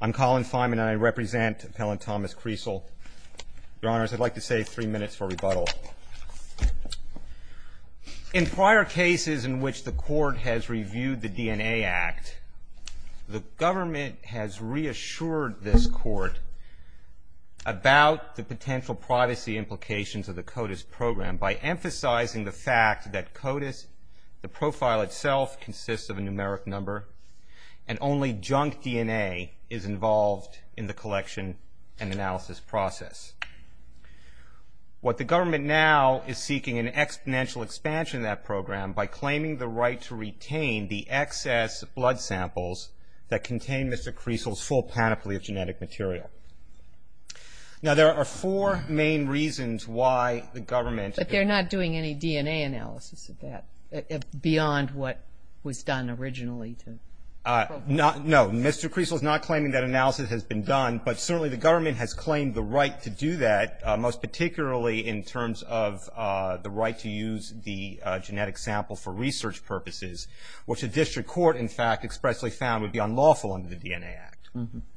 I'm Colin Feynman, and I represent Appellant Thomas Kriesel, Your Honors. I'd like to save three minutes for rebuttal. In prior cases in which the Court has reviewed the DNA Act, the government has reassured this Court about the potential privacy implications of the CODIS program by emphasizing the fact that CODIS, the profile itself, consists of a numeric number, and only junk DNA is involved in the collection and analysis process. What the government now is seeking is an exponential expansion of that program by claiming the right to retain the excess blood samples that contain Mr. Kriesel's full panoply of genetic material. Now there are four main reasons why the government... No, Mr. Kriesel is not claiming that analysis has been done, but certainly the government has claimed the right to do that, most particularly in terms of the right to use the genetic sample for research purposes, which the District Court, in fact, expressly found would be unlawful under the DNA Act.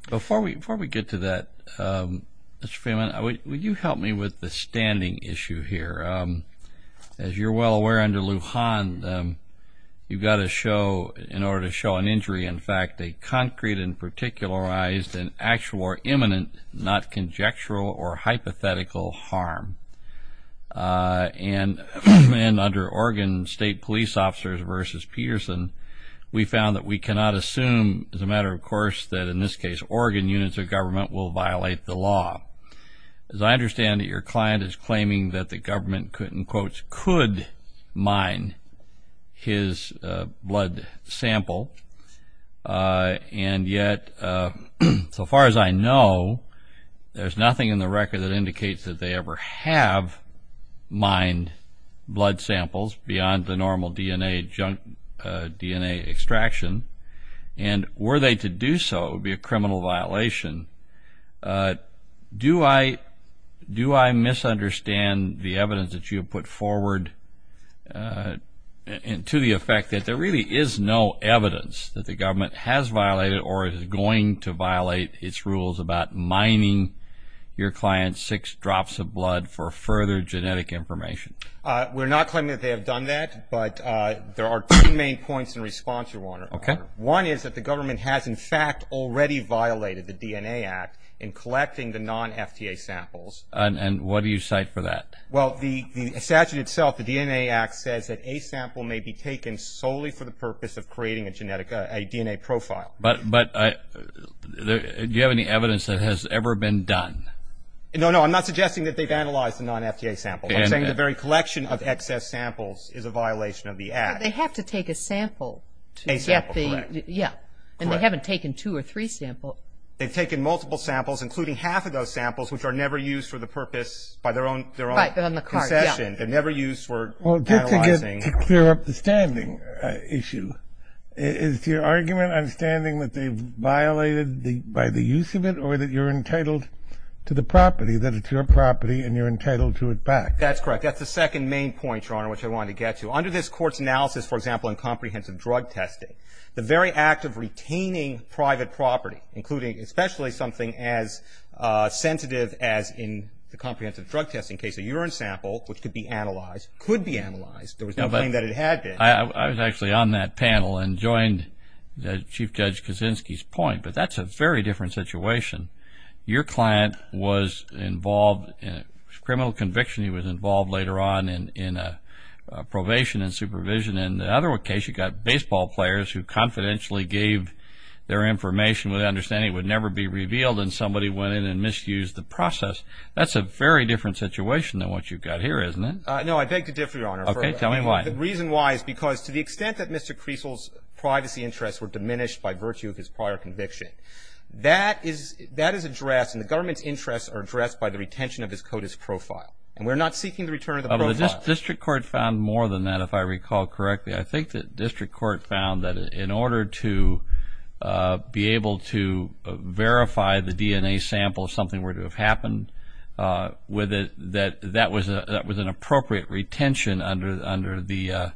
Before we get to that, Mr. Feynman, would you help me with the standing issue here? As you're well aware, under Lujan, you've got to show, in order to show an injury, in fact, a concrete and particularized and actual or imminent, not conjectural or hypothetical, harm. And under Oregon State Police Officers v. Peterson, we found that we cannot assume, as a matter of course, that in this case Oregon units of government will violate the law. As I understand it, your client is claiming that the government, in quotes, could mine his blood sample, and yet, so far as I know, there's nothing in the record that indicates that they ever have mined blood samples beyond the normal DNA extraction. And were they to do so, it would be a criminal violation. Do I misunderstand the evidence that you have put forward to the effect that there really is no evidence that the government has violated or is going to violate its rules about mining your client's six drops of blood for further genetic information? We're not claiming that they have done that, but there are two main points in response to one. One is that the government has, in fact, already violated the DNA Act in collecting the non-FTA samples. And what do you cite for that? Well, the statute itself, the DNA Act, says that a sample may be taken solely for the purpose of creating a DNA profile. But do you have any evidence that it has ever been done? No, no, I'm not suggesting that they've analyzed a non-FTA sample. I'm saying the very collection of excess samples is a violation of the Act. They have to take a sample. A sample, correct. Yeah. And they haven't taken two or three samples. They've taken multiple samples, including half of those samples, which are never used for the purpose, by their own concession. They're never used for analyzing. Well, just to clear up the standing issue, is your argument on standing that they've violated by the use of it or that you're entitled to the property, that it's your property and you're entitled to it back? That's correct. That's the second main point, Your Honor, which I wanted to get to. Under this Court's analysis, for example, in comprehensive drug testing, the very act of retaining private property, including especially something as sensitive as in the comprehensive drug testing case, a urine sample, which could be analyzed, could be analyzed, there was no claim that it had been. I was actually on that panel and joined Chief Judge Kaczynski's point, but that's a very different situation. Your client was involved in a criminal conviction. He was involved later on in a probation and supervision. In the other case, you've got baseball players who confidentially gave their information with the understanding it would never be revealed, and somebody went in and misused the process. That's a very different situation than what you've got here, isn't it? No, I beg to differ, Your Honor. Okay. Tell me why. The reason why is because to the extent that Mr. Creasle's privacy interests were diminished by virtue of his prior conviction, that is addressed, and the government's interests are addressed by the retention of his CODIS profile, and we're not seeking the return of the profile. The district court found more than that, if I recall correctly. I think the district court found that in order to be able to verify the DNA sample, something were to have happened with it, that that was an appropriate retention under the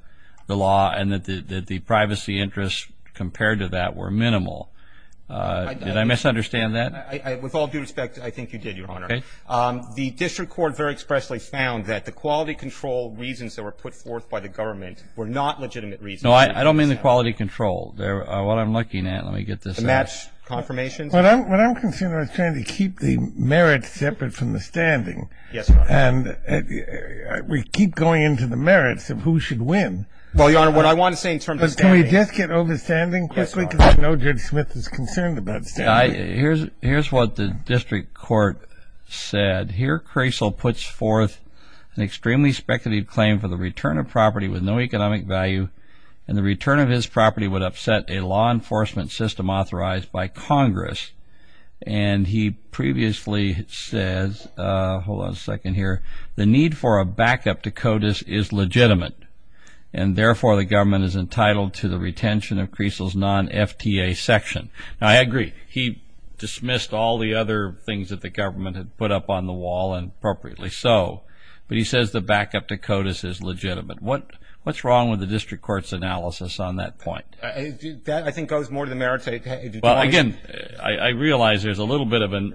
law and that the privacy interests compared to that were minimal. Did I misunderstand that? With all due respect, I think you did, Your Honor. Okay. The district court very expressly found that the quality control reasons that were put forth by the government were not legitimate reasons. No, I don't mean the quality control. What I'm looking at, let me get this out. The match confirmations? What I'm considering is trying to keep the merits separate from the standing. Yes, Your Honor. And we keep going into the merits of who should win. Well, Your Honor, what I want to say is from the standing. But can we just get over standing quickly because I know Judge Smith is concerned about standing. Here's what the district court said. Here, Crasell puts forth an extremely speculative claim for the return of property with no economic value and the return of his property would upset a law enforcement system authorized by Congress. And he previously says, hold on a second here, the need for a backup to CODIS is legitimate. And therefore, the government is entitled to the retention of Crasell's non-FTA section. Now, I agree. He dismissed all the other things that the government had put up on the wall and appropriately so. But he says the backup to CODIS is legitimate. What's wrong with the district court's analysis on that point? That, I think, goes more to the merits. Well, again, I realize there's a little bit of an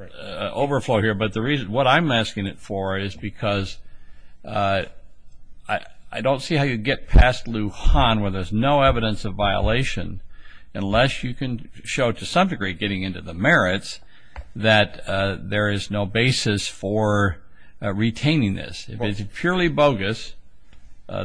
overflow here. But what I'm asking it for is because I don't see how you get past Lujan where there's no evidence of violation unless you can show to some degree getting into the merits that there is no basis for retaining this. If it's purely bogus,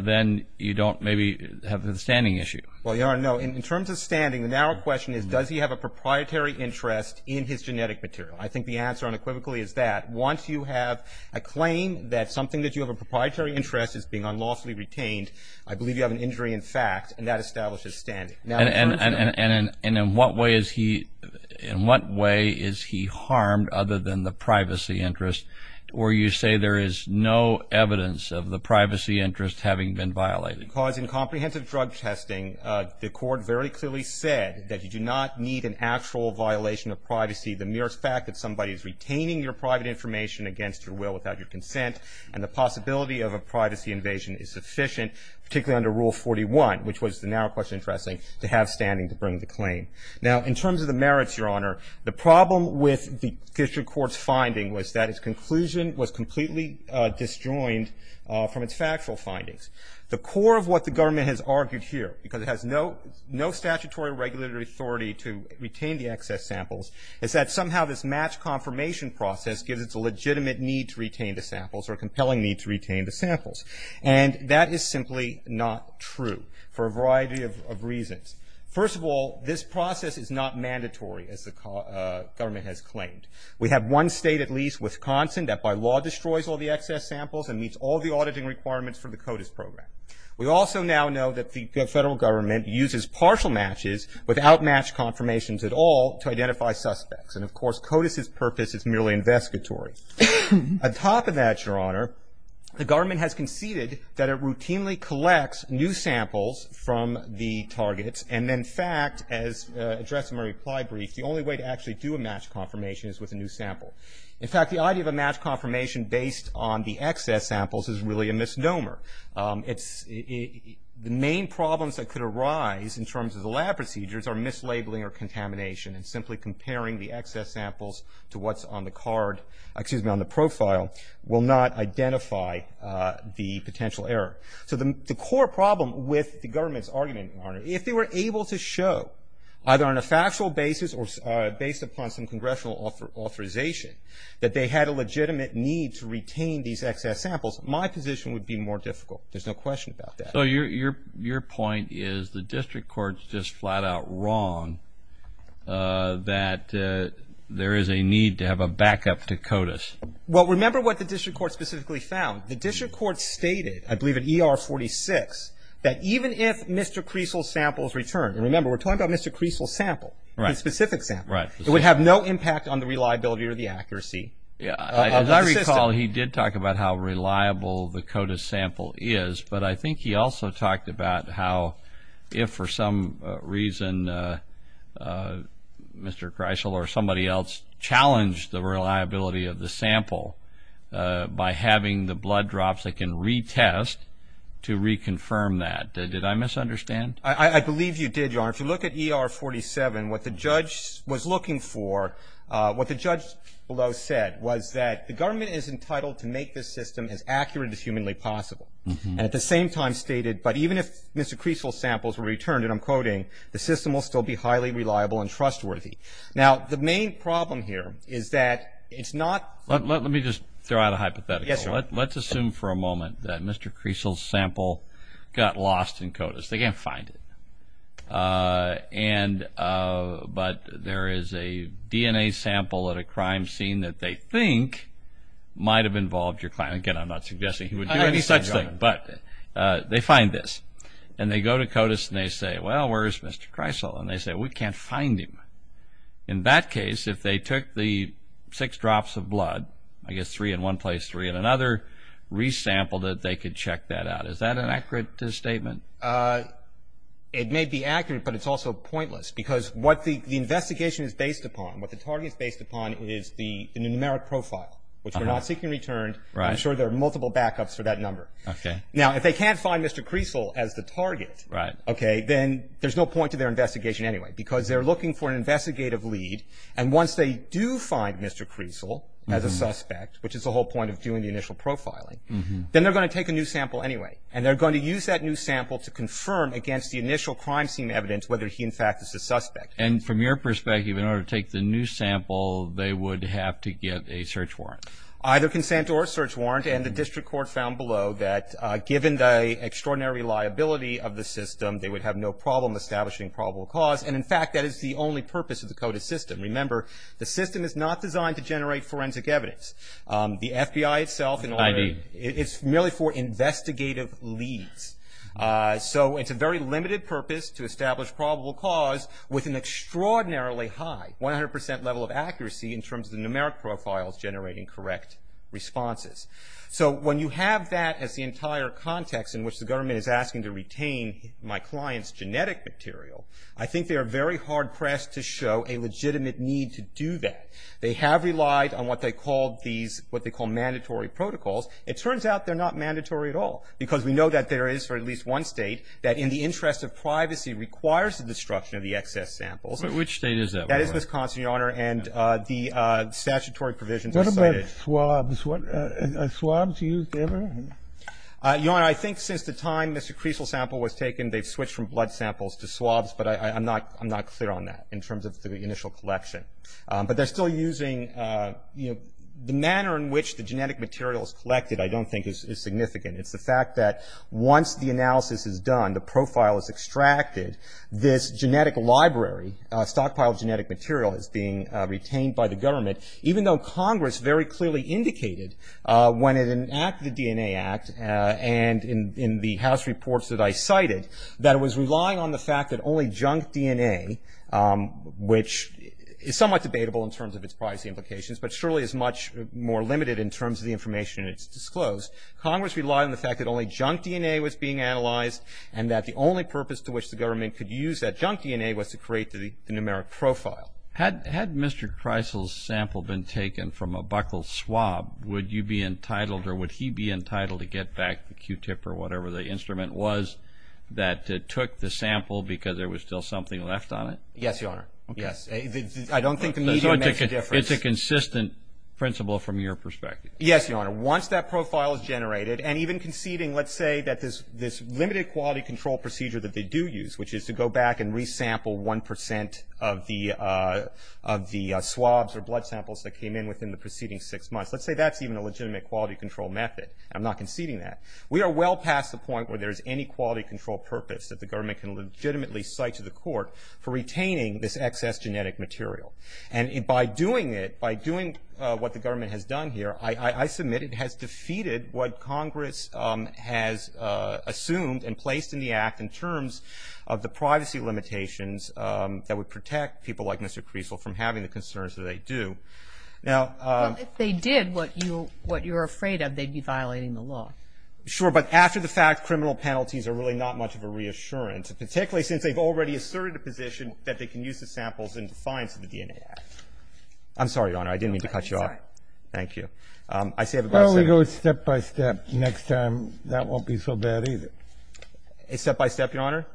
then you don't maybe have the standing issue. Well, Your Honor, no. In terms of standing, the narrow question is does he have a proprietary interest in his genetic material? I think the answer unequivocally is that. Once you have a claim that something that you have a proprietary interest is being unlawfully retained, I believe you have an injury in fact, and that establishes standing. And in what way is he harmed other than the privacy interest where you say there is no evidence of the privacy interest having been violated? Because in comprehensive drug testing, the court very clearly said that you do not need an actual violation of privacy. The mere fact that somebody is retaining your private information against your will without your consent and the possibility of a privacy invasion is sufficient, particularly under Rule 41, which was the narrow question addressing to have standing to bring the claim. Now, in terms of the merits, Your Honor, the problem with the district court's finding was that its conclusion was completely disjoined from its factual findings. The core of what the government has argued here, because it has no statutory regulatory authority to retain the excess samples, is that somehow this match confirmation process gives it a legitimate need to retain the samples or a compelling need to retain the samples. And that is simply not true for a variety of reasons. First of all, this process is not mandatory, as the government has claimed. We have one state at least, Wisconsin, that by law destroys all the excess samples and meets all the auditing requirements for the CODIS program. We also now know that the federal government uses partial matches without match confirmations at all to identify suspects. And, of course, CODIS' purpose is merely investigatory. On top of that, Your Honor, the government has conceded that it routinely collects new samples from the targets and, in fact, as addressed in my reply brief, the only way to actually do a match confirmation is with a new sample. In fact, the idea of a match confirmation based on the excess samples is really a misnomer. The main problems that could arise in terms of the lab procedures are mislabeling or contamination and simply comparing the excess samples to what's on the card, excuse me, on the profile, will not identify the potential error. So the core problem with the government's argument, Your Honor, if they were able to show, either on a factual basis or based upon some congressional authorization, that they had a legitimate need to retain these excess samples, my position would be more difficult. There's no question about that. So your point is the district court's just flat out wrong that there is a need to have a backup to CODIS. Well, remember what the district court specifically found. The district court stated, I believe at ER 46, that even if Mr. Creasel's samples returned, and remember we're talking about Mr. Creasel's sample, the specific sample, it would have no impact on the reliability or the accuracy of the system. As I recall, he did talk about how reliable the CODIS sample is, but I think he also talked about how if for some reason Mr. Creasel or somebody else challenged the reliability of the sample by having the blood drops, they can retest to reconfirm that. I believe you did, Your Honor. If you look at ER 47, what the judge was looking for, what the judge below said, was that the government is entitled to make this system as accurate as humanly possible. And at the same time stated, but even if Mr. Creasel's samples were returned, and I'm quoting, the system will still be highly reliable and trustworthy. Now, the main problem here is that it's not. Let me just throw out a hypothetical. Yes, Your Honor. Let's assume for a moment that Mr. Creasel's sample got lost in CODIS. They can't find it, but there is a DNA sample at a crime scene that they think might have involved your client. Again, I'm not suggesting he would do any such thing, but they find this. And they go to CODIS and they say, well, where is Mr. Creasel? And they say, we can't find him. In that case, if they took the six drops of blood, I guess three in one place, three in another, re-sampled it, they could check that out. Is that an accurate statement? It may be accurate, but it's also pointless because what the investigation is based upon, what the target is based upon is the numeric profile, which we're not seeking returned. I'm sure there are multiple backups for that number. Okay. Now, if they can't find Mr. Creasel as the target, okay, then there's no point to their investigation anyway because they're looking for an investigative lead. And once they do find Mr. Creasel as a suspect, which is the whole point of doing the initial profiling, then they're going to take a new sample anyway. And they're going to use that new sample to confirm against the initial crime scene evidence whether he, in fact, is a suspect. And from your perspective, in order to take the new sample, they would have to get a search warrant? Either consent or a search warrant, and the district court found below that given the extraordinary liability of the system, they would have no problem establishing probable cause. And, in fact, that is the only purpose of the CODIS system. Remember, the system is not designed to generate forensic evidence. The FBI itself in order to – ID. It's merely for investigative leads. So it's a very limited purpose to establish probable cause with an extraordinarily high 100 percent level of accuracy in terms of the numeric profiles generating correct responses. So when you have that as the entire context in which the government is asking to retain my client's genetic material, I think they are very hard-pressed to show a legitimate need to do that. They have relied on what they call these – what they call mandatory protocols. It turns out they're not mandatory at all because we know that there is, for at least one State, that in the interest of privacy requires the destruction of the excess samples. But which State is that? That is Wisconsin, Your Honor, and the statutory provisions are cited. What about swabs? Are swabs used ever? Your Honor, I think since the time Mr. Creasel's sample was taken, they've switched from blood samples to swabs, but I'm not clear on that in terms of the initial collection. But they're still using – you know, the manner in which the genetic material is collected I don't think is significant. It's the fact that once the analysis is done, the profile is extracted, this genetic library, a stockpile of genetic material is being retained by the government, even though Congress very clearly indicated when it enacted the DNA Act and in the House reports that I cited that it was relying on the fact that only junk DNA, which is somewhat debatable in terms of its privacy implications, but surely is much more limited in terms of the information that's disclosed. Congress relied on the fact that only junk DNA was being analyzed and that the only purpose to which the government could use that junk DNA was to create the numeric profile. Had Mr. Creasel's sample been taken from a buckled swab, would you be entitled or would he be entitled to get back the Q-tip or whatever the instrument was that took the sample because there was still something left on it? Yes, Your Honor. Yes. I don't think the medium makes a difference. It's a consistent principle from your perspective. Yes, Your Honor. Once that profile is generated and even conceding, let's say, that this limited quality control procedure that they do use, which is to go back and re-sample 1% of the swabs or blood samples that came in within the preceding six months, let's say that's even a legitimate quality control method. I'm not conceding that. We are well past the point where there is any quality control purpose that the government can legitimately cite to the court for retaining this excess genetic material. And by doing it, by doing what the government has done here, I submit it has defeated what Congress has assumed and placed in the act in terms of the privacy limitations that would protect people like Mr. Creasel from having the concerns that they do. Well, if they did what you're afraid of, they'd be violating the law. Sure. But after the fact, criminal penalties are really not much of a reassurance, particularly since they've already asserted a position that they can use the samples in defiance of the DNA Act. I'm sorry, Your Honor. I didn't mean to cut you off. I'm sorry. Thank you. Why don't we go step-by-step next time? That won't be so bad, either. Step-by-step, Your Honor?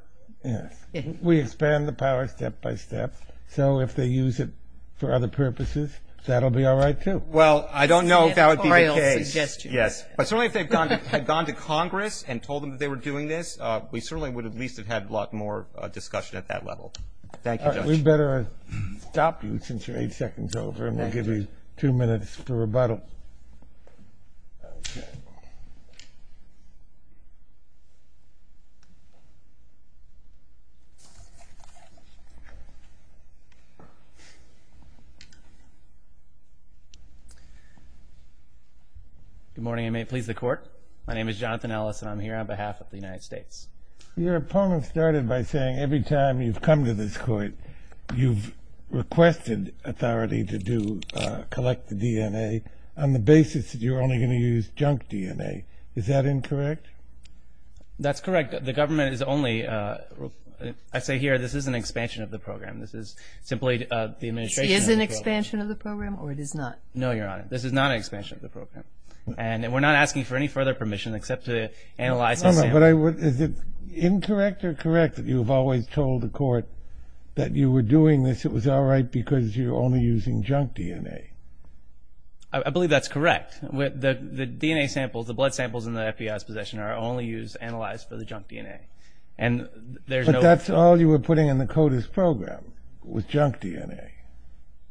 Yes. We expand the power step-by-step. So if they use it for other purposes, that will be all right, too. Well, I don't know if that would be the case. Yes. But certainly if they had gone to Congress and told them that they were doing this, we certainly would at least have had a lot more discussion at that level. Thank you, Judge. We'd better stop you since you're eight seconds over, and we'll give you two minutes for rebuttal. Good morning, and may it please the Court. My name is Jonathan Ellis, and I'm here on behalf of the United States. Your opponent started by saying every time you've come to this Court, you've requested authority to collect the DNA on the basis that you're only going to use junk DNA. Is that incorrect? That's correct. The government is only – I say here this is an expansion of the program. This is simply the administration's approach. It is an expansion of the program, or it is not? No, Your Honor. This is not an expansion of the program. And we're not asking for any further permission except to analyze the sample. But is it incorrect or correct that you've always told the Court that you were doing this, it was all right because you're only using junk DNA? I believe that's correct. The DNA samples, the blood samples in the FBI's possession are only used, analyzed for the junk DNA. But that's all you were putting in the CODIS program was junk DNA.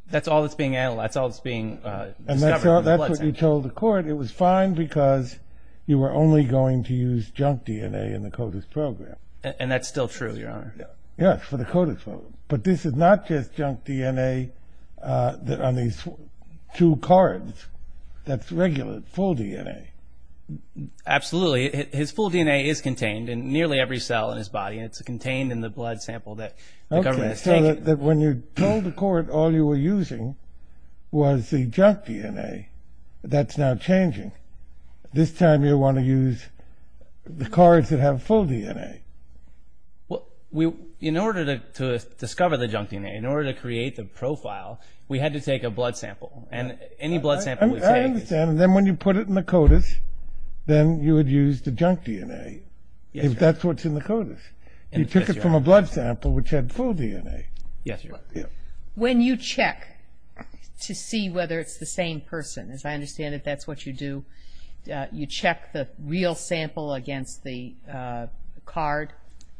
That's all that's being analyzed. That's all that's being discovered. And that's what you told the Court. It was fine because you were only going to use junk DNA in the CODIS program. And that's still true, Your Honor. Yes, for the CODIS program. But this is not just junk DNA on these two cards. That's regular, full DNA. Absolutely. His full DNA is contained in nearly every cell in his body, and it's contained in the blood sample that the government is taking. But when you told the Court all you were using was the junk DNA, that's now changing. This time you want to use the cards that have full DNA. Well, in order to discover the junk DNA, in order to create the profile, we had to take a blood sample. And any blood sample we take… I understand. And then when you put it in the CODIS, then you would use the junk DNA. Yes, Your Honor. That's what's in the CODIS. You took it from a blood sample which had full DNA. Yes, Your Honor. When you check to see whether it's the same person, as I understand it, that's what you do. You check the real sample against the card.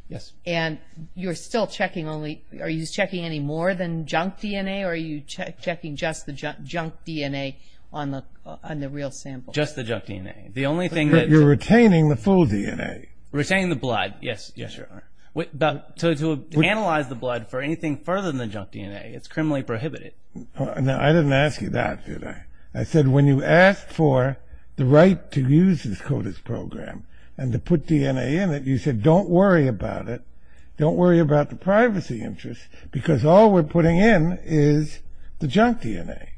Yes. And you're still checking only – are you checking any more than junk DNA, or are you checking just the junk DNA on the real sample? Just the junk DNA. You're retaining the full DNA. Retaining the blood. Yes, Your Honor. So to analyze the blood for anything further than the junk DNA, it's criminally prohibited. Now, I didn't ask you that, did I? I said when you asked for the right to use this CODIS program and to put DNA in it, you said don't worry about it, don't worry about the privacy interest, because all we're putting in is the junk DNA.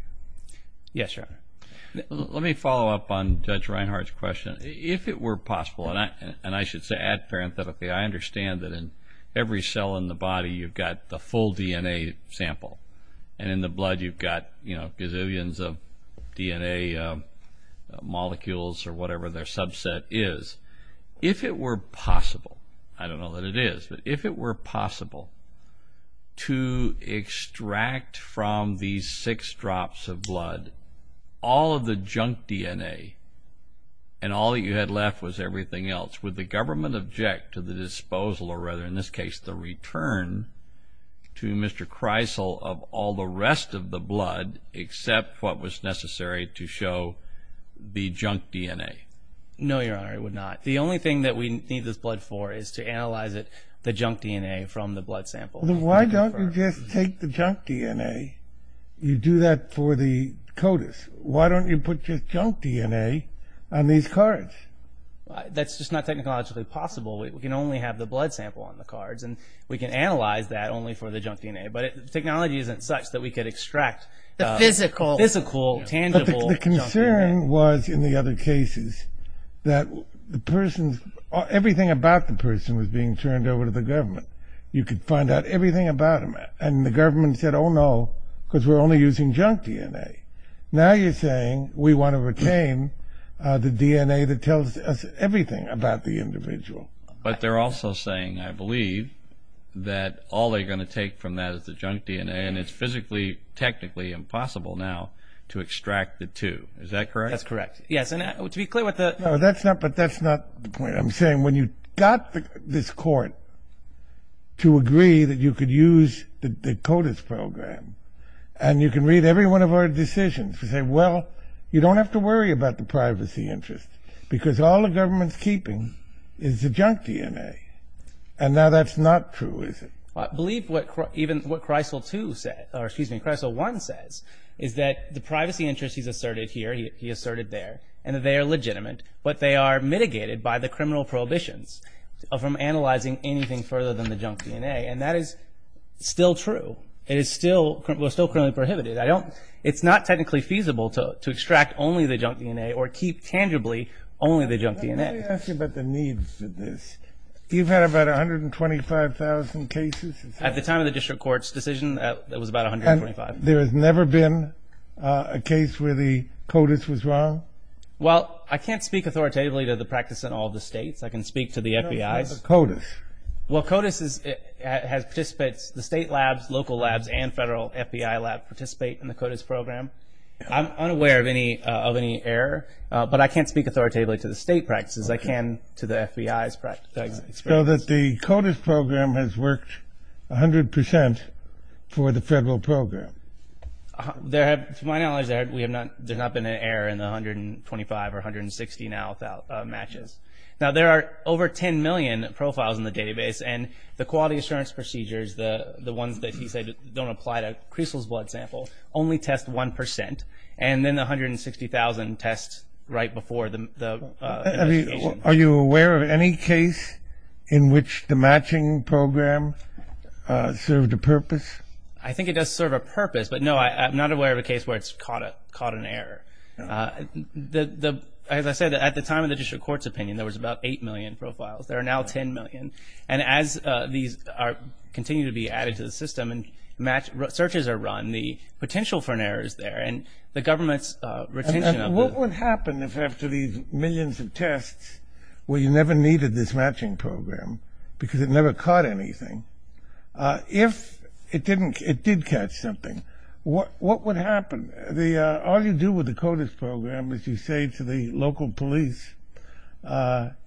Yes, Your Honor. Let me follow up on Judge Reinhart's question. If it were possible, and I should add parenthetically, I understand that in every cell in the body you've got the full DNA sample, and in the blood you've got gazillions of DNA molecules or whatever their subset is. If it were possible, I don't know that it is, but if it were possible to extract from these six drops of blood all of the junk DNA and all that you had left was everything else, would the government object to the disposal, or rather in this case the return, to Mr. Kreisel of all the rest of the blood except what was necessary to show the junk DNA? No, Your Honor, it would not. The only thing that we need this blood for is to analyze the junk DNA from the blood sample. Why don't you just take the junk DNA, you do that for the CODIS. Why don't you put just junk DNA on these cards? That's just not technologically possible. We can only have the blood sample on the cards, and we can analyze that only for the junk DNA, but technology isn't such that we could extract the physical, tangible junk DNA. The concern was, in the other cases, that everything about the person was being turned over to the government. You could find out everything about them, and the government said, oh no, because we're only using junk DNA. Now you're saying we want to retain the DNA that tells us everything about the individual. But they're also saying, I believe, that all they're going to take from that is the junk DNA, and it's physically, technically impossible now to extract the two. Is that correct? That's correct. Yes, and to be clear with the... No, but that's not the point. I'm saying when you got this court to agree that you could use the CODIS program, and you can read every one of our decisions to say, well, you don't have to worry about the privacy interest, because all the government's keeping is the junk DNA. And now that's not true, is it? I believe even what Kreisel 2 said, or excuse me, Kreisel 1 says, is that the privacy interest he's asserted here, he asserted there, and that they are legitimate, but they are mitigated by the criminal prohibitions from analyzing anything further than the junk DNA, and that is still true. It is still criminally prohibited. It's not technically feasible to extract only the junk DNA or keep tangibly only the junk DNA. Let me ask you about the needs of this. You've had about 125,000 cases? At the time of the district court's decision, it was about 125. And there has never been a case where the CODIS was wrong? Well, I can't speak authoritatively to the practice in all the states. I can speak to the FBI. What about the CODIS? Well, CODIS has participants, the state labs, local labs, and federal FBI labs participate in the CODIS program. I'm unaware of any error, but I can't speak authoritatively to the state practices. I can to the FBI's practices. So the CODIS program has worked 100% for the federal program? To my knowledge, there has not been an error in the 125 or 160 now without matches. Now, there are over 10 million profiles in the database, and the quality assurance procedures, the ones that he said don't apply to Kreisel's blood sample, only test 1%. And then the 160,000 tests right before the investigation. Are you aware of any case in which the matching program served a purpose? I think it does serve a purpose, but, no, I'm not aware of a case where it's caught an error. As I said, at the time of the district court's opinion, there was about 8 million profiles. There are now 10 million. And as these continue to be added to the system and searches are run, the potential for an error is there, and the government's retention of the- And what would happen if after these millions of tests, where you never needed this matching program because it never caught anything, if it did catch something, what would happen? All you do with the CODIS program is you say to the local police,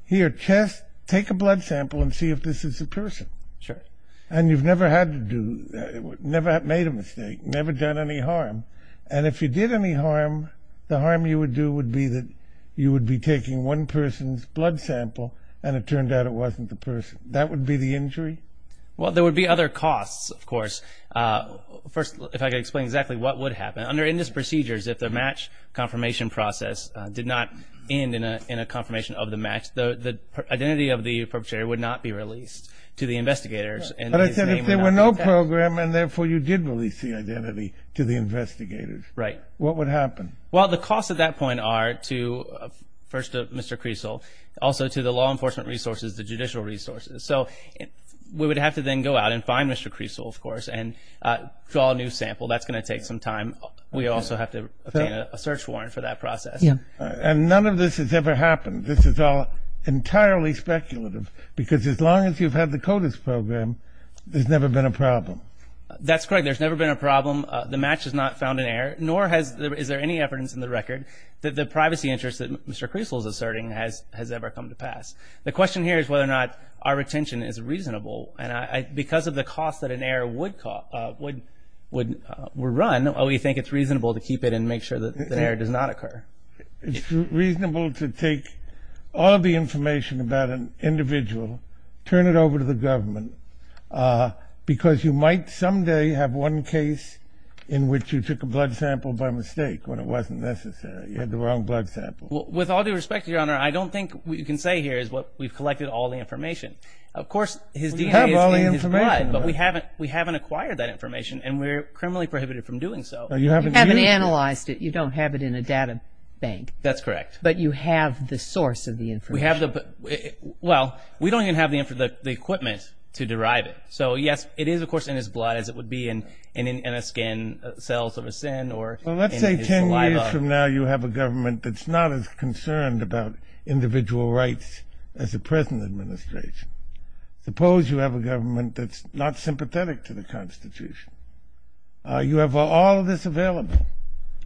here, test, take a blood sample and see if this is a person. Sure. And you've never had to do, never made a mistake, never done any harm. And if you did any harm, the harm you would do would be that you would be taking one person's blood sample and it turned out it wasn't the person. That would be the injury? Well, there would be other costs, of course. First, if I could explain exactly what would happen. Under INDIS procedures, if the match confirmation process did not end in a confirmation of the match, the identity of the perpetrator would not be released to the investigators. But I said if there were no program and, therefore, you did release the identity to the investigators. Right. What would happen? Well, the costs at that point are to, first, Mr. Creasle, also to the law enforcement resources, the judicial resources. So we would have to then go out and find Mr. Creasle, of course, and draw a new sample. That's going to take some time. We also have to obtain a search warrant for that process. Yeah. And none of this has ever happened. This is all entirely speculative because as long as you've had the CODIS program, there's never been a problem. That's correct. There's never been a problem. The match is not found in error, nor is there any evidence in the record that the privacy interest that Mr. Creasle is asserting has ever come to pass. The question here is whether or not our retention is reasonable. And because of the cost that an error would run, we think it's reasonable to keep it and make sure that an error does not occur. It's reasonable to take all of the information about an individual, turn it over to the government, because you might someday have one case in which you took a blood sample by mistake when it wasn't necessary. You had the wrong blood sample. With all due respect, Your Honor, I don't think what you can say here is we've collected all the information. Of course, his DNA is in his blood, but we haven't acquired that information, and we're criminally prohibited from doing so. You haven't analyzed it. You don't have it in a data bank. That's correct. But you have the source of the information. Well, we don't even have the equipment to derive it. So, yes, it is, of course, in his blood as it would be in a skin, cells of a sin or in his saliva. Five years from now, you have a government that's not as concerned about individual rights as the present administration. Suppose you have a government that's not sympathetic to the Constitution. You have all of this available,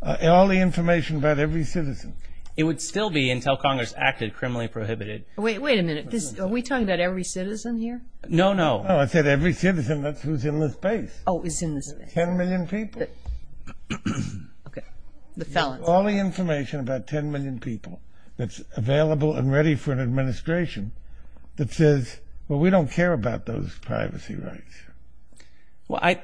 all the information about every citizen. It would still be until Congress acted criminally prohibited. Wait a minute. Are we talking about every citizen here? No, no. No, I said every citizen. That's who's in this space. Oh, is in this space. Ten million people. Okay. The felons. All the information about ten million people that's available and ready for an administration that says, well, we don't care about those privacy rights.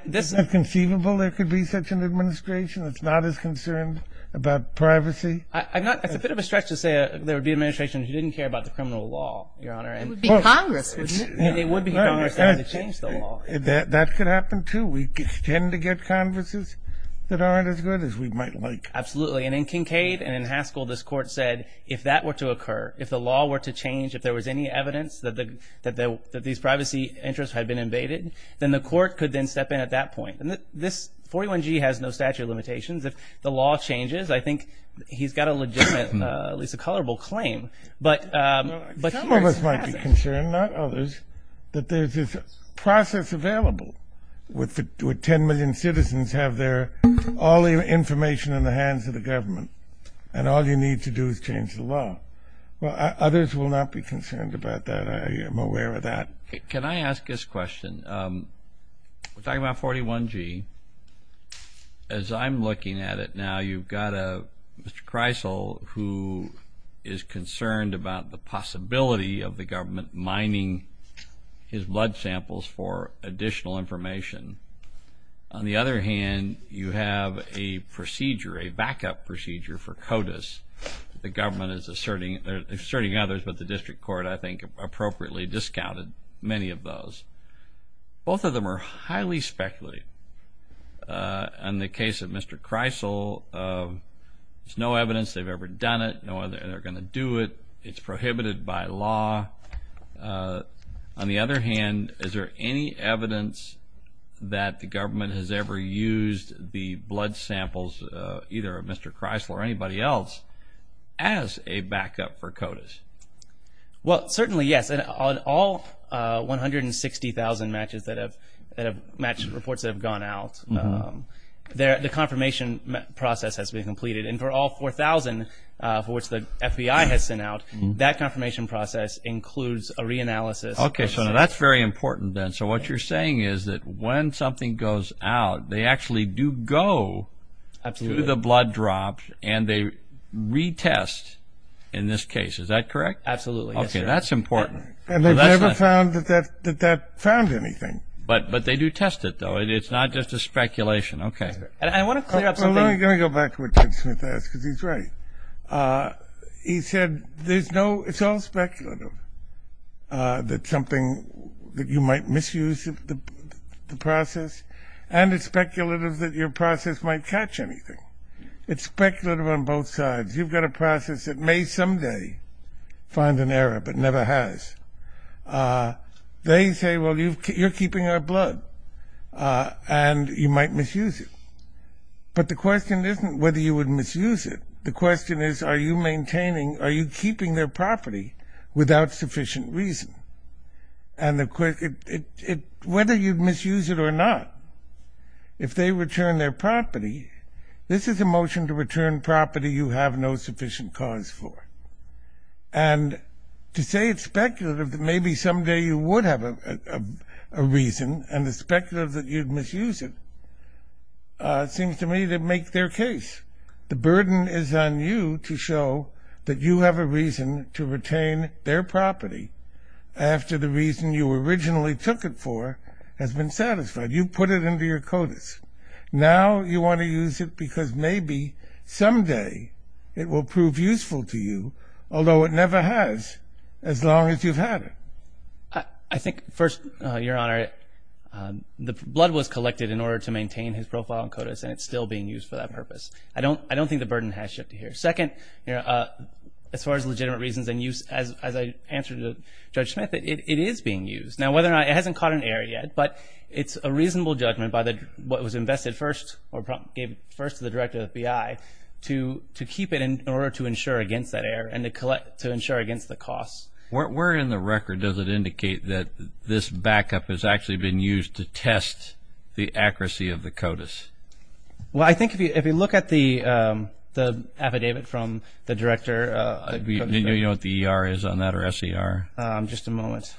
Isn't that conceivable there could be such an administration that's not as concerned about privacy? It's a bit of a stretch to say there would be an administration who didn't care about the criminal law, Your Honor. It would be Congress, wouldn't it? It would be Congress that would change the law. That could happen too. We tend to get Congresses that aren't as good as we might like. Absolutely, and in Kincaid and in Haskell, this Court said if that were to occur, if the law were to change, if there was any evidence that these privacy interests had been invaded, then the Court could then step in at that point. And this 41G has no statute of limitations. If the law changes, I think he's got a legitimate, at least a colorable claim. Some of us might be concerned, not others, that there's this process available. Would ten million citizens have all the information in the hands of the government and all you need to do is change the law? Well, others will not be concerned about that. I am aware of that. Can I ask this question? We're talking about 41G. As I'm looking at it now, you've got Mr. Kreisel, who is concerned about the possibility of the government mining his blood samples for additional information. On the other hand, you have a procedure, a backup procedure for CODIS. The government is asserting others, but the district court, I think, appropriately discounted many of those. Both of them are highly speculative. In the case of Mr. Kreisel, there's no evidence they've ever done it, nor are they going to do it. It's prohibited by law. On the other hand, is there any evidence that the government has ever used the blood samples, either of Mr. Kreisel or anybody else, as a backup for CODIS? Well, certainly, yes. On all 160,000 matches that have matched reports that have gone out, the confirmation process has been completed. And for all 4,000 for which the FBI has sent out, that confirmation process includes a reanalysis. Okay, so that's very important then. So what you're saying is that when something goes out, they actually do go through the blood drops and they retest in this case. Is that correct? Absolutely, yes, sir. Okay, that's important. And they've never found that that found anything. But they do test it, though. It's not just a speculation. Okay. And I want to clear up something. Well, let me go back to what Ted Smith asked, because he's right. He said it's all speculative, that you might misuse the process, and it's speculative that your process might catch anything. It's speculative on both sides. You've got a process that may someday find an error but never has. They say, well, you're keeping our blood, and you might misuse it. But the question isn't whether you would misuse it. The question is, are you maintaining, are you keeping their property without sufficient reason? And whether you'd misuse it or not, if they return their property, this is a motion to return property you have no sufficient cause for. And to say it's speculative that maybe someday you would have a reason and it's speculative that you'd misuse it seems to me to make their case. The burden is on you to show that you have a reason to retain their property after the reason you originally took it for has been satisfied. You put it into your CODIS. Now you want to use it because maybe someday it will prove useful to you, although it never has as long as you've had it. I think first, Your Honor, the blood was collected in order to maintain his profile in CODIS, and it's still being used for that purpose. I don't think the burden has shifted here. Second, as far as legitimate reasons and use, as I answered to Judge Smith, it is being used. Now, whether or not it hasn't caught an error yet, but it's a reasonable judgment by what was invested first or gave first to the Director of the FBI to keep it in order to insure against that error and to insure against the cost. Where in the record does it indicate that this backup has actually been used to test the accuracy of the CODIS? Well, I think if you look at the affidavit from the Director. Do you know what the ER is on that or SER? Just a moment.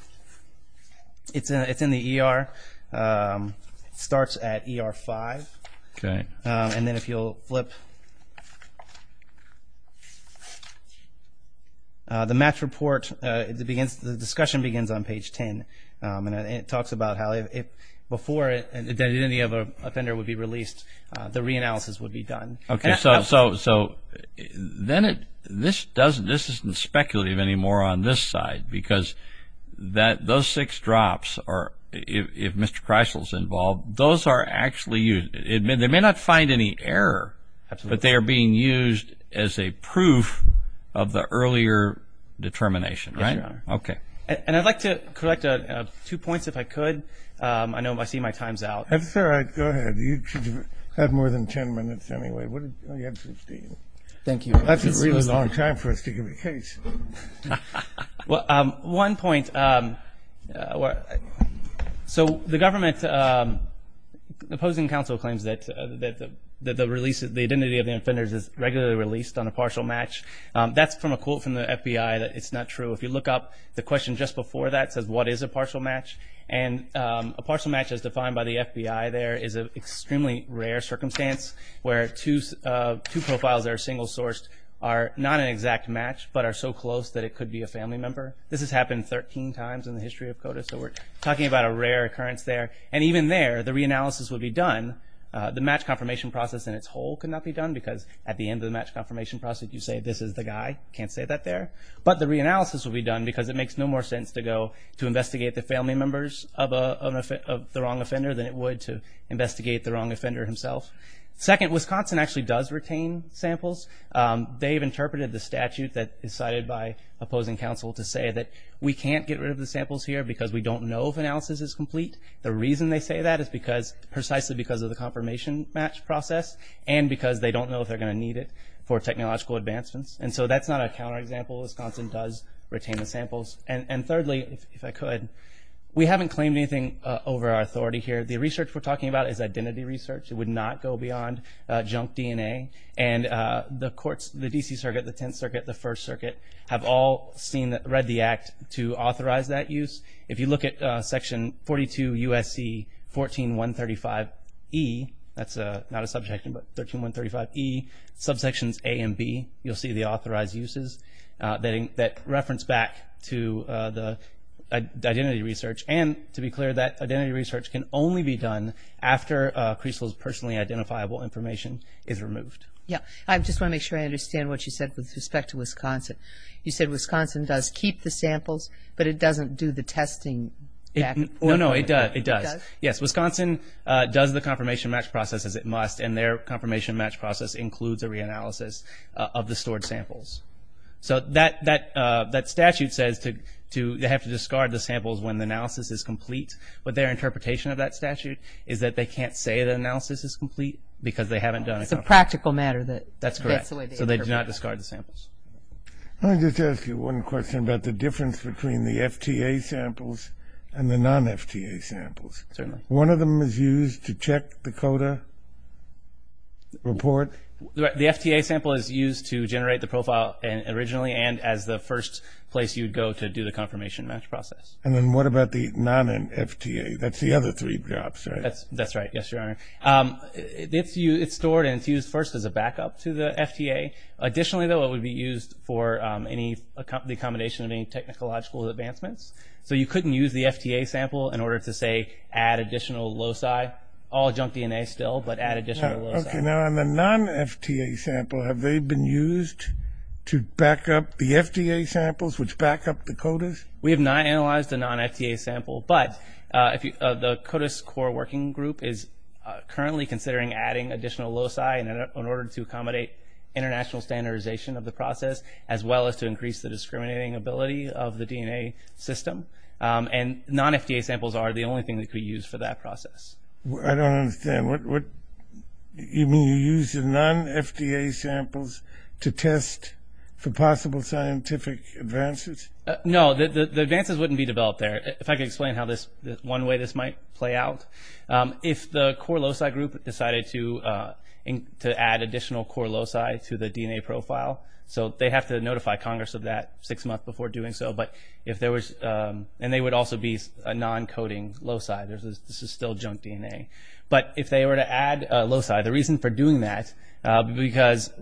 It's in the ER. It starts at ER 5. Okay. And then if you'll flip. The match report, the discussion begins on page 10, and it talks about how if before any other offender would be released, the reanalysis would be done. Okay, so then this isn't speculative anymore on this side because those six drops, if Mr. Chrysler is involved, those are actually used. They may not find any error, but they are being used as a proof of the earlier determination, right? Yes, Your Honor. Okay. And I'd like to collect two points if I could. I know I see my time's out. That's all right. Go ahead. You had more than 10 minutes anyway. You had 15. Thank you. That's a really long time for us to give a case. Well, one point. So the government opposing counsel claims that the release, the identity of the offenders is regularly released on a partial match. That's from a quote from the FBI that it's not true. If you look up the question just before that, it says, what is a partial match? And a partial match as defined by the FBI there is an extremely rare circumstance where two profiles that are single sourced are not an exact match but are so close that it could be a family member. This has happened 13 times in the history of CODA, so we're talking about a rare occurrence there. And even there, the reanalysis would be done. The match confirmation process in its whole could not be done because at the end of the match confirmation process, you say this is the guy. You can't say that there. But the reanalysis would be done because it makes no more sense to go to investigate the family members of the wrong offender than it would to investigate the wrong offender himself. Second, Wisconsin actually does retain samples. They've interpreted the statute that is cited by opposing counsel to say that we can't get rid of the samples here because we don't know if analysis is complete. The reason they say that is precisely because of the confirmation match process and because they don't know if they're going to need it for technological advancements. And so that's not a counterexample. Wisconsin does retain the samples. And thirdly, if I could, we haven't claimed anything over our authority here. The research we're talking about is identity research. It would not go beyond junk DNA. And the courts, the D.C. Circuit, the Tenth Circuit, the First Circuit, have all read the Act to authorize that use. If you look at Section 42 U.S.C. 14135E, that's not a subject, but 13135E, subsections A and B, you'll see the authorized uses that reference back to the identity research. And to be clear, that identity research can only be done after CRECEL's personally identifiable information is removed. Yeah, I just want to make sure I understand what you said with respect to Wisconsin. You said Wisconsin does keep the samples, but it doesn't do the testing. Well, no, it does. It does? Yes, Wisconsin does the confirmation match process as it must, and their confirmation match process includes a reanalysis of the stored samples. So that statute says they have to discard the samples when the analysis is complete, but their interpretation of that statute is that they can't say the analysis is complete because they haven't done it. It's a practical matter that that's the way they interpret that. That's correct. So they do not discard the samples. Let me just ask you one question about the difference between the FTA samples and the non-FTA samples. One of them is used to check the CODA report? The FTA sample is used to generate the profile originally and as the first place you'd go to do the confirmation match process. And then what about the non-FTA? That's the other three drops, right? That's right, yes, Your Honor. It's stored and it's used first as a backup to the FTA. Additionally, though, it would be used for the accommodation of any technological advancements. So you couldn't use the FTA sample in order to, say, add additional loci. All junk DNA still, but add additional loci. Okay, now on the non-FTA sample, have they been used to back up the FTA samples, which back up the CODAS? We have not analyzed a non-FTA sample, but the CODAS core working group is currently considering adding additional loci in order to accommodate international standardization of the process as well as to increase the discriminating ability of the DNA system. And non-FTA samples are the only thing that could be used for that process. I don't understand. You mean you use the non-FTA samples to test for possible scientific advances? No, the advances wouldn't be developed there. If I could explain how this, one way this might play out. If the core loci group decided to add additional core loci to the DNA profile, so they have to notify Congress of that six months before doing so, and they would also be a non-coding loci. This is still junk DNA. But if they were to add loci, the reason for doing that,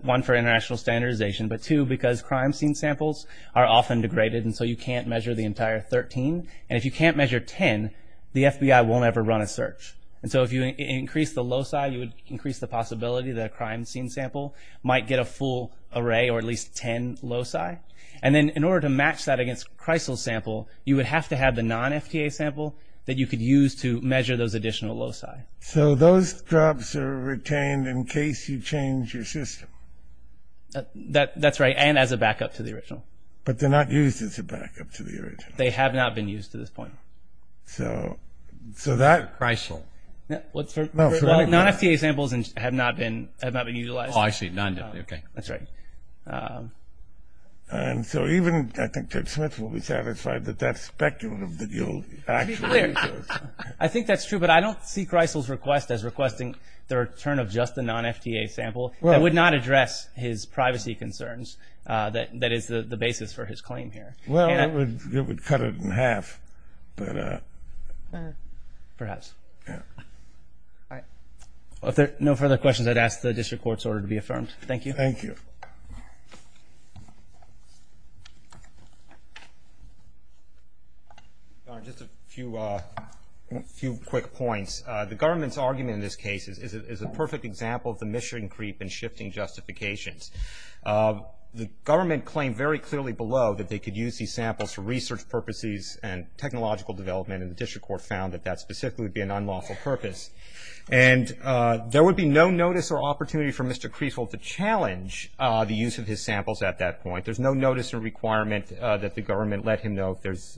one, for international standardization, but two, because crime scene samples are often degraded, and so you can't measure the entire 13. And if you can't measure 10, the FBI won't ever run a search. And so if you increase the loci, you would increase the possibility that a crime scene sample might get a full array or at least 10 loci. And then in order to match that against Kreisel's sample, you would have to have the non-FTA sample that you could use to measure those additional loci. So those drops are retained in case you change your system? That's right, and as a backup to the original. But they're not used as a backup to the original. They have not been used to this point. So that – Kreisel. Non-FTA samples have not been utilized. Oh, I see, non-FTA, okay. That's right. And so even I think Ted Smith will be satisfied that that's speculative that you'll actually use those. I think that's true, but I don't see Kreisel's request as requesting the return of just the non-FTA sample. That would not address his privacy concerns. That is the basis for his claim here. Well, it would cut it in half. Perhaps. All right. If there are no further questions, I'd ask the district court's order to be affirmed. Thank you. Thank you. Just a few quick points. The government's argument in this case is a perfect example of the mission creep and shifting justifications. The government claimed very clearly below that they could use these samples for research purposes and technological development, and the district court found that that specifically would be an unlawful purpose. And there would be no notice or opportunity for Mr. Kreisel to challenge the use of his samples at that point. There's no notice or requirement that the government let him know if there's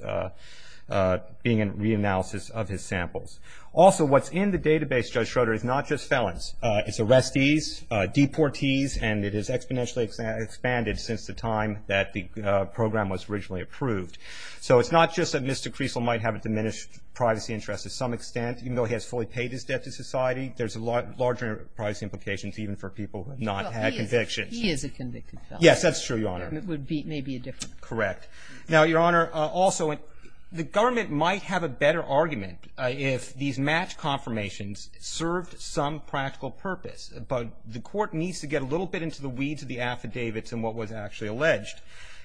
being a reanalysis of his samples. Also, what's in the database, Judge Schroeder, is not just felons. It's arrestees, deportees, and it has exponentially expanded since the time that the program was originally approved. So it's not just that Mr. Kreisel might have a diminished privacy interest to some extent. Even though he has fully paid his debt to society, there's larger privacy implications even for people who have not had convictions. Well, he is a convicted felon. Yes, that's true, Your Honor. It would be maybe a different. Correct. Now, Your Honor, also, the government might have a better argument if these match confirmations served some practical purpose, but the court needs to get a little bit into the weeds of the affidavits and what was actually alleged.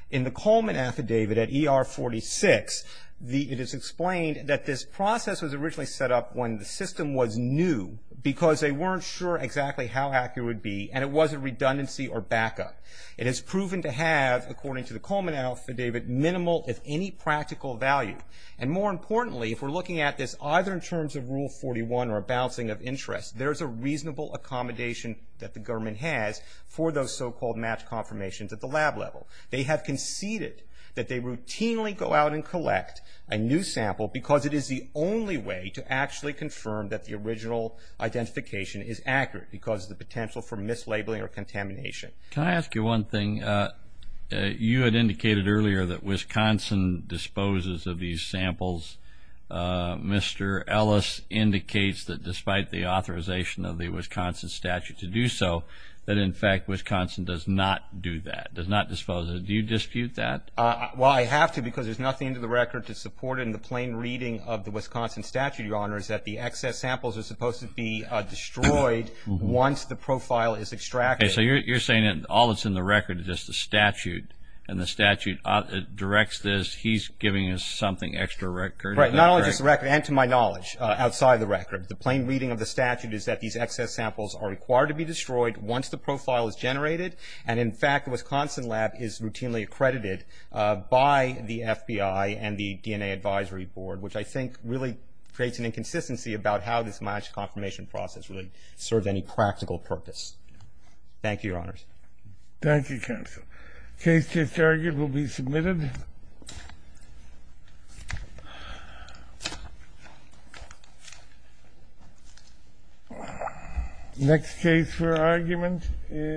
In the Coleman affidavit at ER 46, it is explained that this process was originally set up when the system was new because they weren't sure exactly how accurate it would be, and it was a redundancy or backup. It is proven to have, according to the Coleman affidavit, minimal, if any, practical value. And more importantly, if we're looking at this either in terms of Rule 41 or a bouncing of interest, there's a reasonable accommodation that the government has for those so-called match confirmations at the lab level. They have conceded that they routinely go out and collect a new sample because it is the only way to actually confirm that the original identification is accurate because of the potential for mislabeling or contamination. Can I ask you one thing? You had indicated earlier that Wisconsin disposes of these samples. Mr. Ellis indicates that despite the authorization of the Wisconsin statute to do so, that, in fact, Wisconsin does not do that, does not dispose of it. Do you dispute that? Well, I have to because there's nothing in the record to support it in the plain reading of the Wisconsin statute, Your Honor, is that the excess samples are supposed to be destroyed once the profile is extracted. Okay. So you're saying that all that's in the record is just the statute, and the statute directs this. He's giving us something extra record. Right. Not only just the record and, to my knowledge, outside the record. The plain reading of the statute is that these excess samples are required to be destroyed once the profile is generated, and, in fact, the Wisconsin lab is routinely accredited by the FBI and the DNA Advisory Board, which I think really creates an inconsistency about how this match confirmation process really serves any practical purpose. Thank you, Your Honors. Thank you, counsel. The case to be argued will be submitted. Next case for argument is...